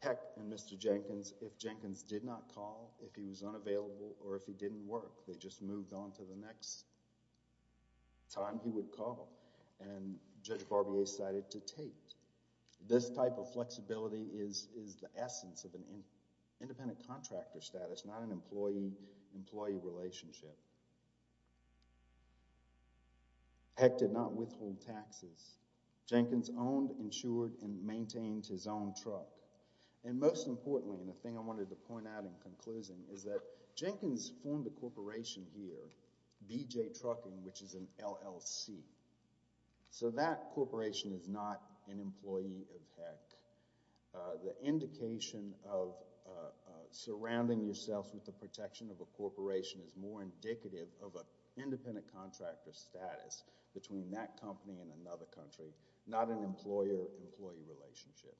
Heck and Mr. Jenkins if Jenkins did not call, if he was unavailable, or if he didn't work. They just moved on to the next time he would call, and Judge Barbier cited to Tate. This type of flexibility is the essence of an independent contractor status, not an employee-employee relationship. Heck did not withhold taxes. Jenkins owned, insured, and maintained his own truck. And most importantly, and the thing I wanted to point out in conclusion, is that Jenkins formed a corporation here, BJ Trucking, which is an LLC. So that corporation is not an employee of Heck. The indication of surrounding yourself with the protection of a corporation is more indicative of an independent contractor status between that company and another country, not an employer-employee relationship.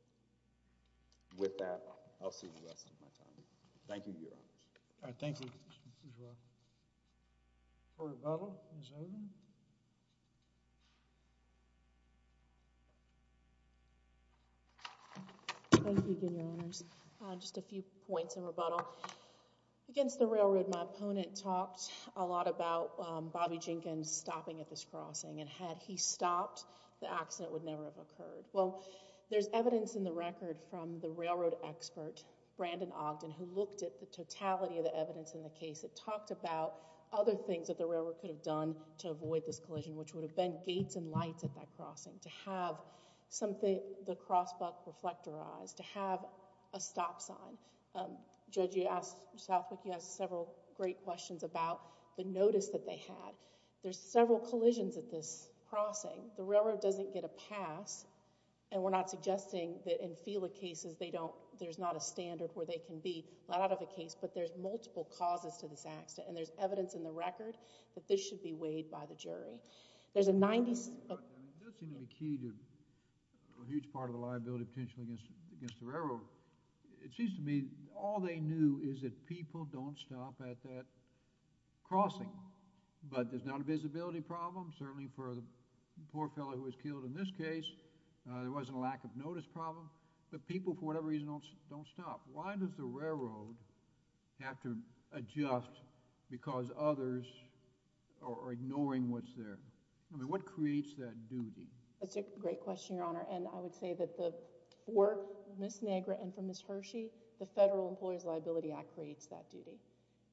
With that, I'll see you the rest of my time. Thank you, Your Honors. All right, thank you. You're welcome. Court of Bailiff is open. Thank you again, Your Honors. Just a few points of rebuttal. Against the railroad, my opponent talked a lot about Bobby Jenkins stopping at this crossing, and had he stopped, the accident would never have occurred. Well, there's evidence in the record from the railroad expert, Brandon Ogden, who looked at the totality of the evidence in the case. It talked about other things which would have been gates and lights at that crossing, to have the cross buck reflectorized, to have a stop sign. Judge Southwick, you asked several great questions about the notice that they had. There's several collisions at this crossing. The railroad doesn't get a pass, and we're not suggesting that in FELA cases, there's not a standard where they can be let out of a case, but there's multiple causes to this accident, and there's evidence in the record that this should be weighed by the jury. There's a 90... It does seem to be key to a huge part of the liability potential against the railroad. It seems to me all they knew is that people don't stop at that crossing, but there's not a visibility problem. Certainly for the poor fellow who was killed in this case, there wasn't a lack of notice problem, but people, for whatever reason, don't stop. Why does the railroad have to adjust because others are ignoring what's there? I mean, what creates that duty? That's a great question, Your Honor, and I would say that the work, Ms. Negra and for Ms. Hershey, the Federal Employees Liability Act creates that duty.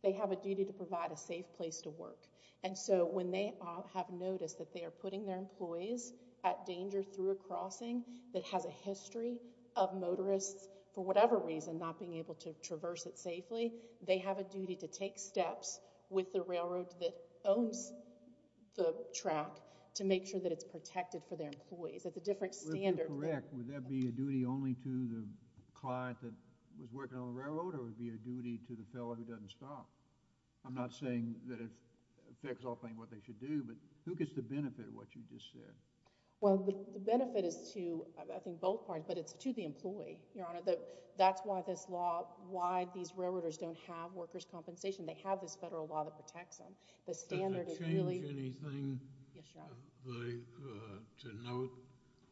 They have a duty to provide a safe place to work, and so when they have noticed that they are putting their employees at danger through a crossing that has a history of motorists, for whatever reason, not being able to traverse it safely, they have a duty to take steps with the railroad that owns the track to make sure that it's protected for their employees. It's a different standard. If you're correct, would that be a duty only to the client that was working on the railroad, or would it be a duty to the fellow who doesn't stop? I'm not saying that it affects what they should do, but who gets the benefit of what you just said? Well, the benefit is to, I think, both parties, but it's to the employee, Your Honor. That's why this law, why these railroaders don't have workers' compensation. They have this federal law that protects them. The standard is really... Does it change anything... Yes, Your Honor. ...to note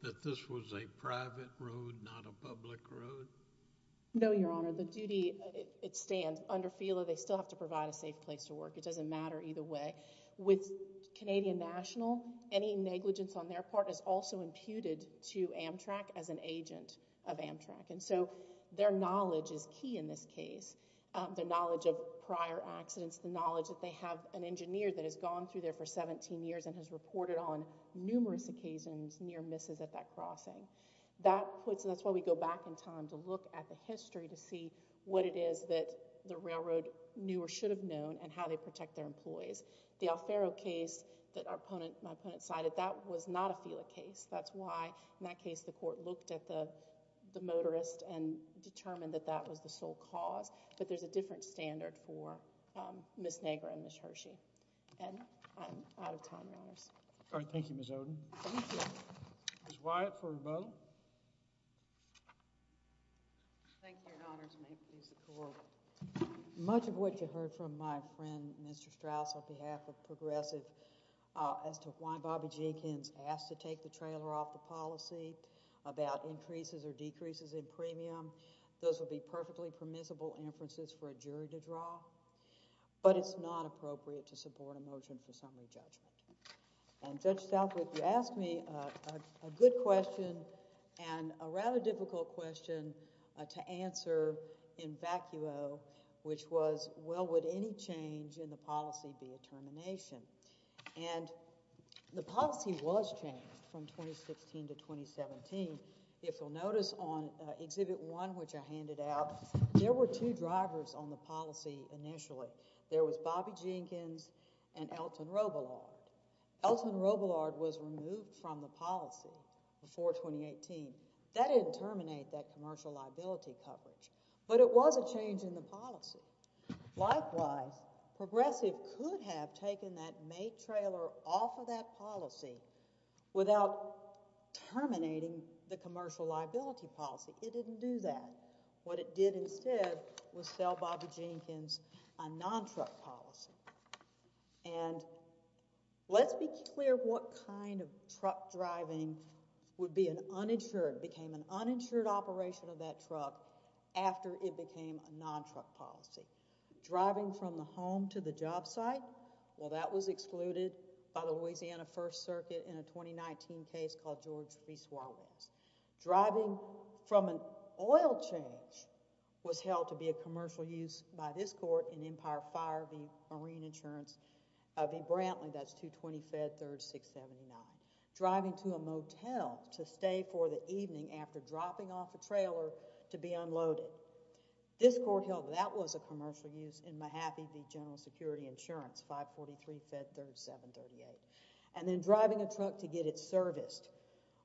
that this was a private road, not a public road? No, Your Honor. The duty, it stands. Under FELA, they still have to provide a safe place to work. It doesn't matter either way. With Canadian National, any negligence on their part is also imputed to Amtrak as an agent of Amtrak, and so their knowledge is key in this case, the knowledge of prior accidents, the knowledge that they have an engineer that has gone through there for 17 years and has reported on numerous occasions near misses at that crossing. That's why we go back in time to look at the history to see what it is that the railroad knew or should have known and how they protect their employees. The Alfaro case that my opponent cited, that was not a FELA case. That's why, in that case, the court looked at the motorist and determined that that was the sole cause. But there's a different standard for Ms. Negra and Ms. Hershey. And I'm out of time, Your Honors. All right, thank you, Ms. Oden. Thank you. Ms. Wyatt for rebuttal. Thank you, Your Honors. May it please the Court. Much of what you heard from my friend, Mr. Strauss, on behalf of Progressive, as to why Bobby Jenkins asked to take the trailer off the policy about increases or decreases in premium, those would be perfectly permissible inferences for a jury to draw. But it's not appropriate to support a motion for summary judgment. And Judge Southwick, you asked me a good question and a rather difficult question to answer in vacuo, which was, well, would any change in the policy be a termination? And the policy was changed from 2016 to 2017. If you'll notice on Exhibit 1, which I handed out, there were two drivers on the policy initially. There was Bobby Jenkins and Elton Robillard. Elton Robillard was removed from the policy before 2018. That didn't terminate that commercial liability coverage. But it was a change in the policy. Likewise, Progressive could have taken that May trailer off of that policy without terminating the commercial liability policy. It didn't do that. What it did instead was sell Bobby Jenkins a non-truck policy. And let's be clear what kind of truck driving would be an uninsured, became an uninsured operation of that truck after it became a non-truck policy. Driving from the home to the job site, well, that was excluded by the Louisiana First Circuit in a 2019 case called George v. Swalwells. Driving from an oil change was held to be a commercial use by this court in Empire Fire v. Marine Insurance v. Brantley. That's 220 Fed 3679. Driving to a motel to stay for the evening after dropping off a trailer to be unloaded. This court held that that was a commercial use in Mahaffey v. General Security Insurance, 543 Fed 3738. And then driving a truck to get it serviced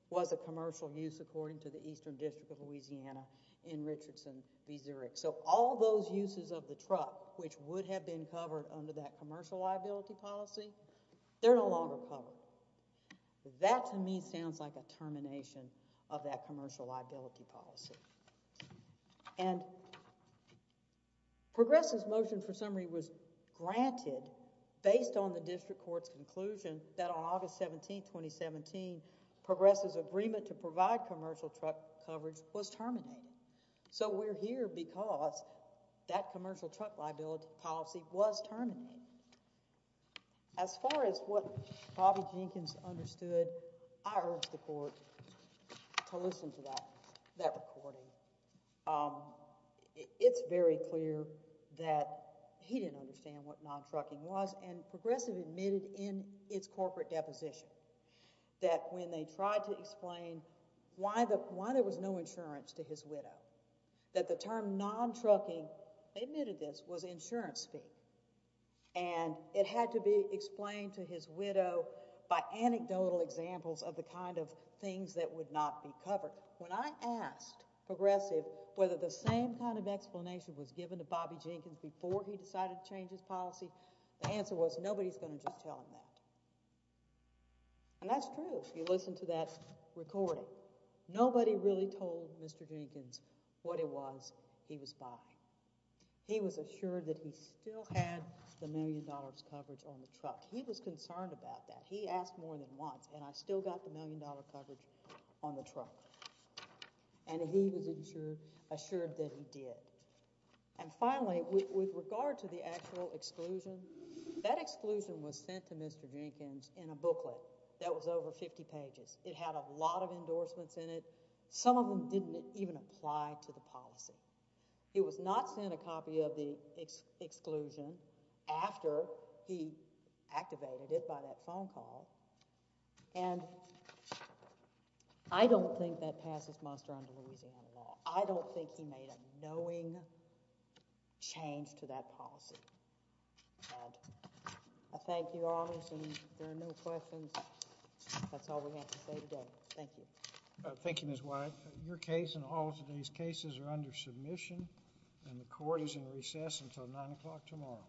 was a commercial use according to the Eastern District of Louisiana in Richardson v. Zurich. So all those uses of the truck which would have been covered under that commercial liability policy, they're no longer covered. That to me sounds like a termination of that commercial liability policy. And Progress' motion for summary was granted based on the district court's conclusion that on August 17, 2017, Progress' agreement to provide commercial truck coverage was terminated. So we're here because that commercial truck liability policy was terminated. As far as what Bobby Jenkins understood, I urge the court to listen to that recording. It's very clear that he didn't understand what non-trucking was and Progress' admitted in its corporate deposition that when they tried to explain why there was no insurance to his widow, that the term non-trucking, they admitted this, was insurance fee. And it had to be explained to his widow by anecdotal examples of the kind of things that would not be covered. When I asked Progress' whether the same kind of explanation was given to Bobby Jenkins before he decided to change his policy, the answer was nobody's going to just tell him that. And that's true if you listen to that recording. Nobody really told Mr. Jenkins what it was he was buying. He was assured that he still had the million dollars coverage on the truck. He was concerned about that. He asked more than once, and I still got the million dollar coverage on the truck. And he was assured that he did. And finally, with regard to the actual exclusion, that exclusion was sent to Mr. Jenkins in a booklet that was over 50 pages. It had a lot of endorsements in it. Some of them didn't even apply to the policy. It was not sent a copy of the exclusion after he activated it by that phone call. And I don't think that passes Monster on to Louisiana law. I don't think he made a knowing change to that policy. And I thank you, Your Honors, and if there are no questions, that's all we have to say today. Thank you. Thank you, Ms. White. Your case and all of today's cases are under submission, and the court is in recess until 9 o'clock tomorrow.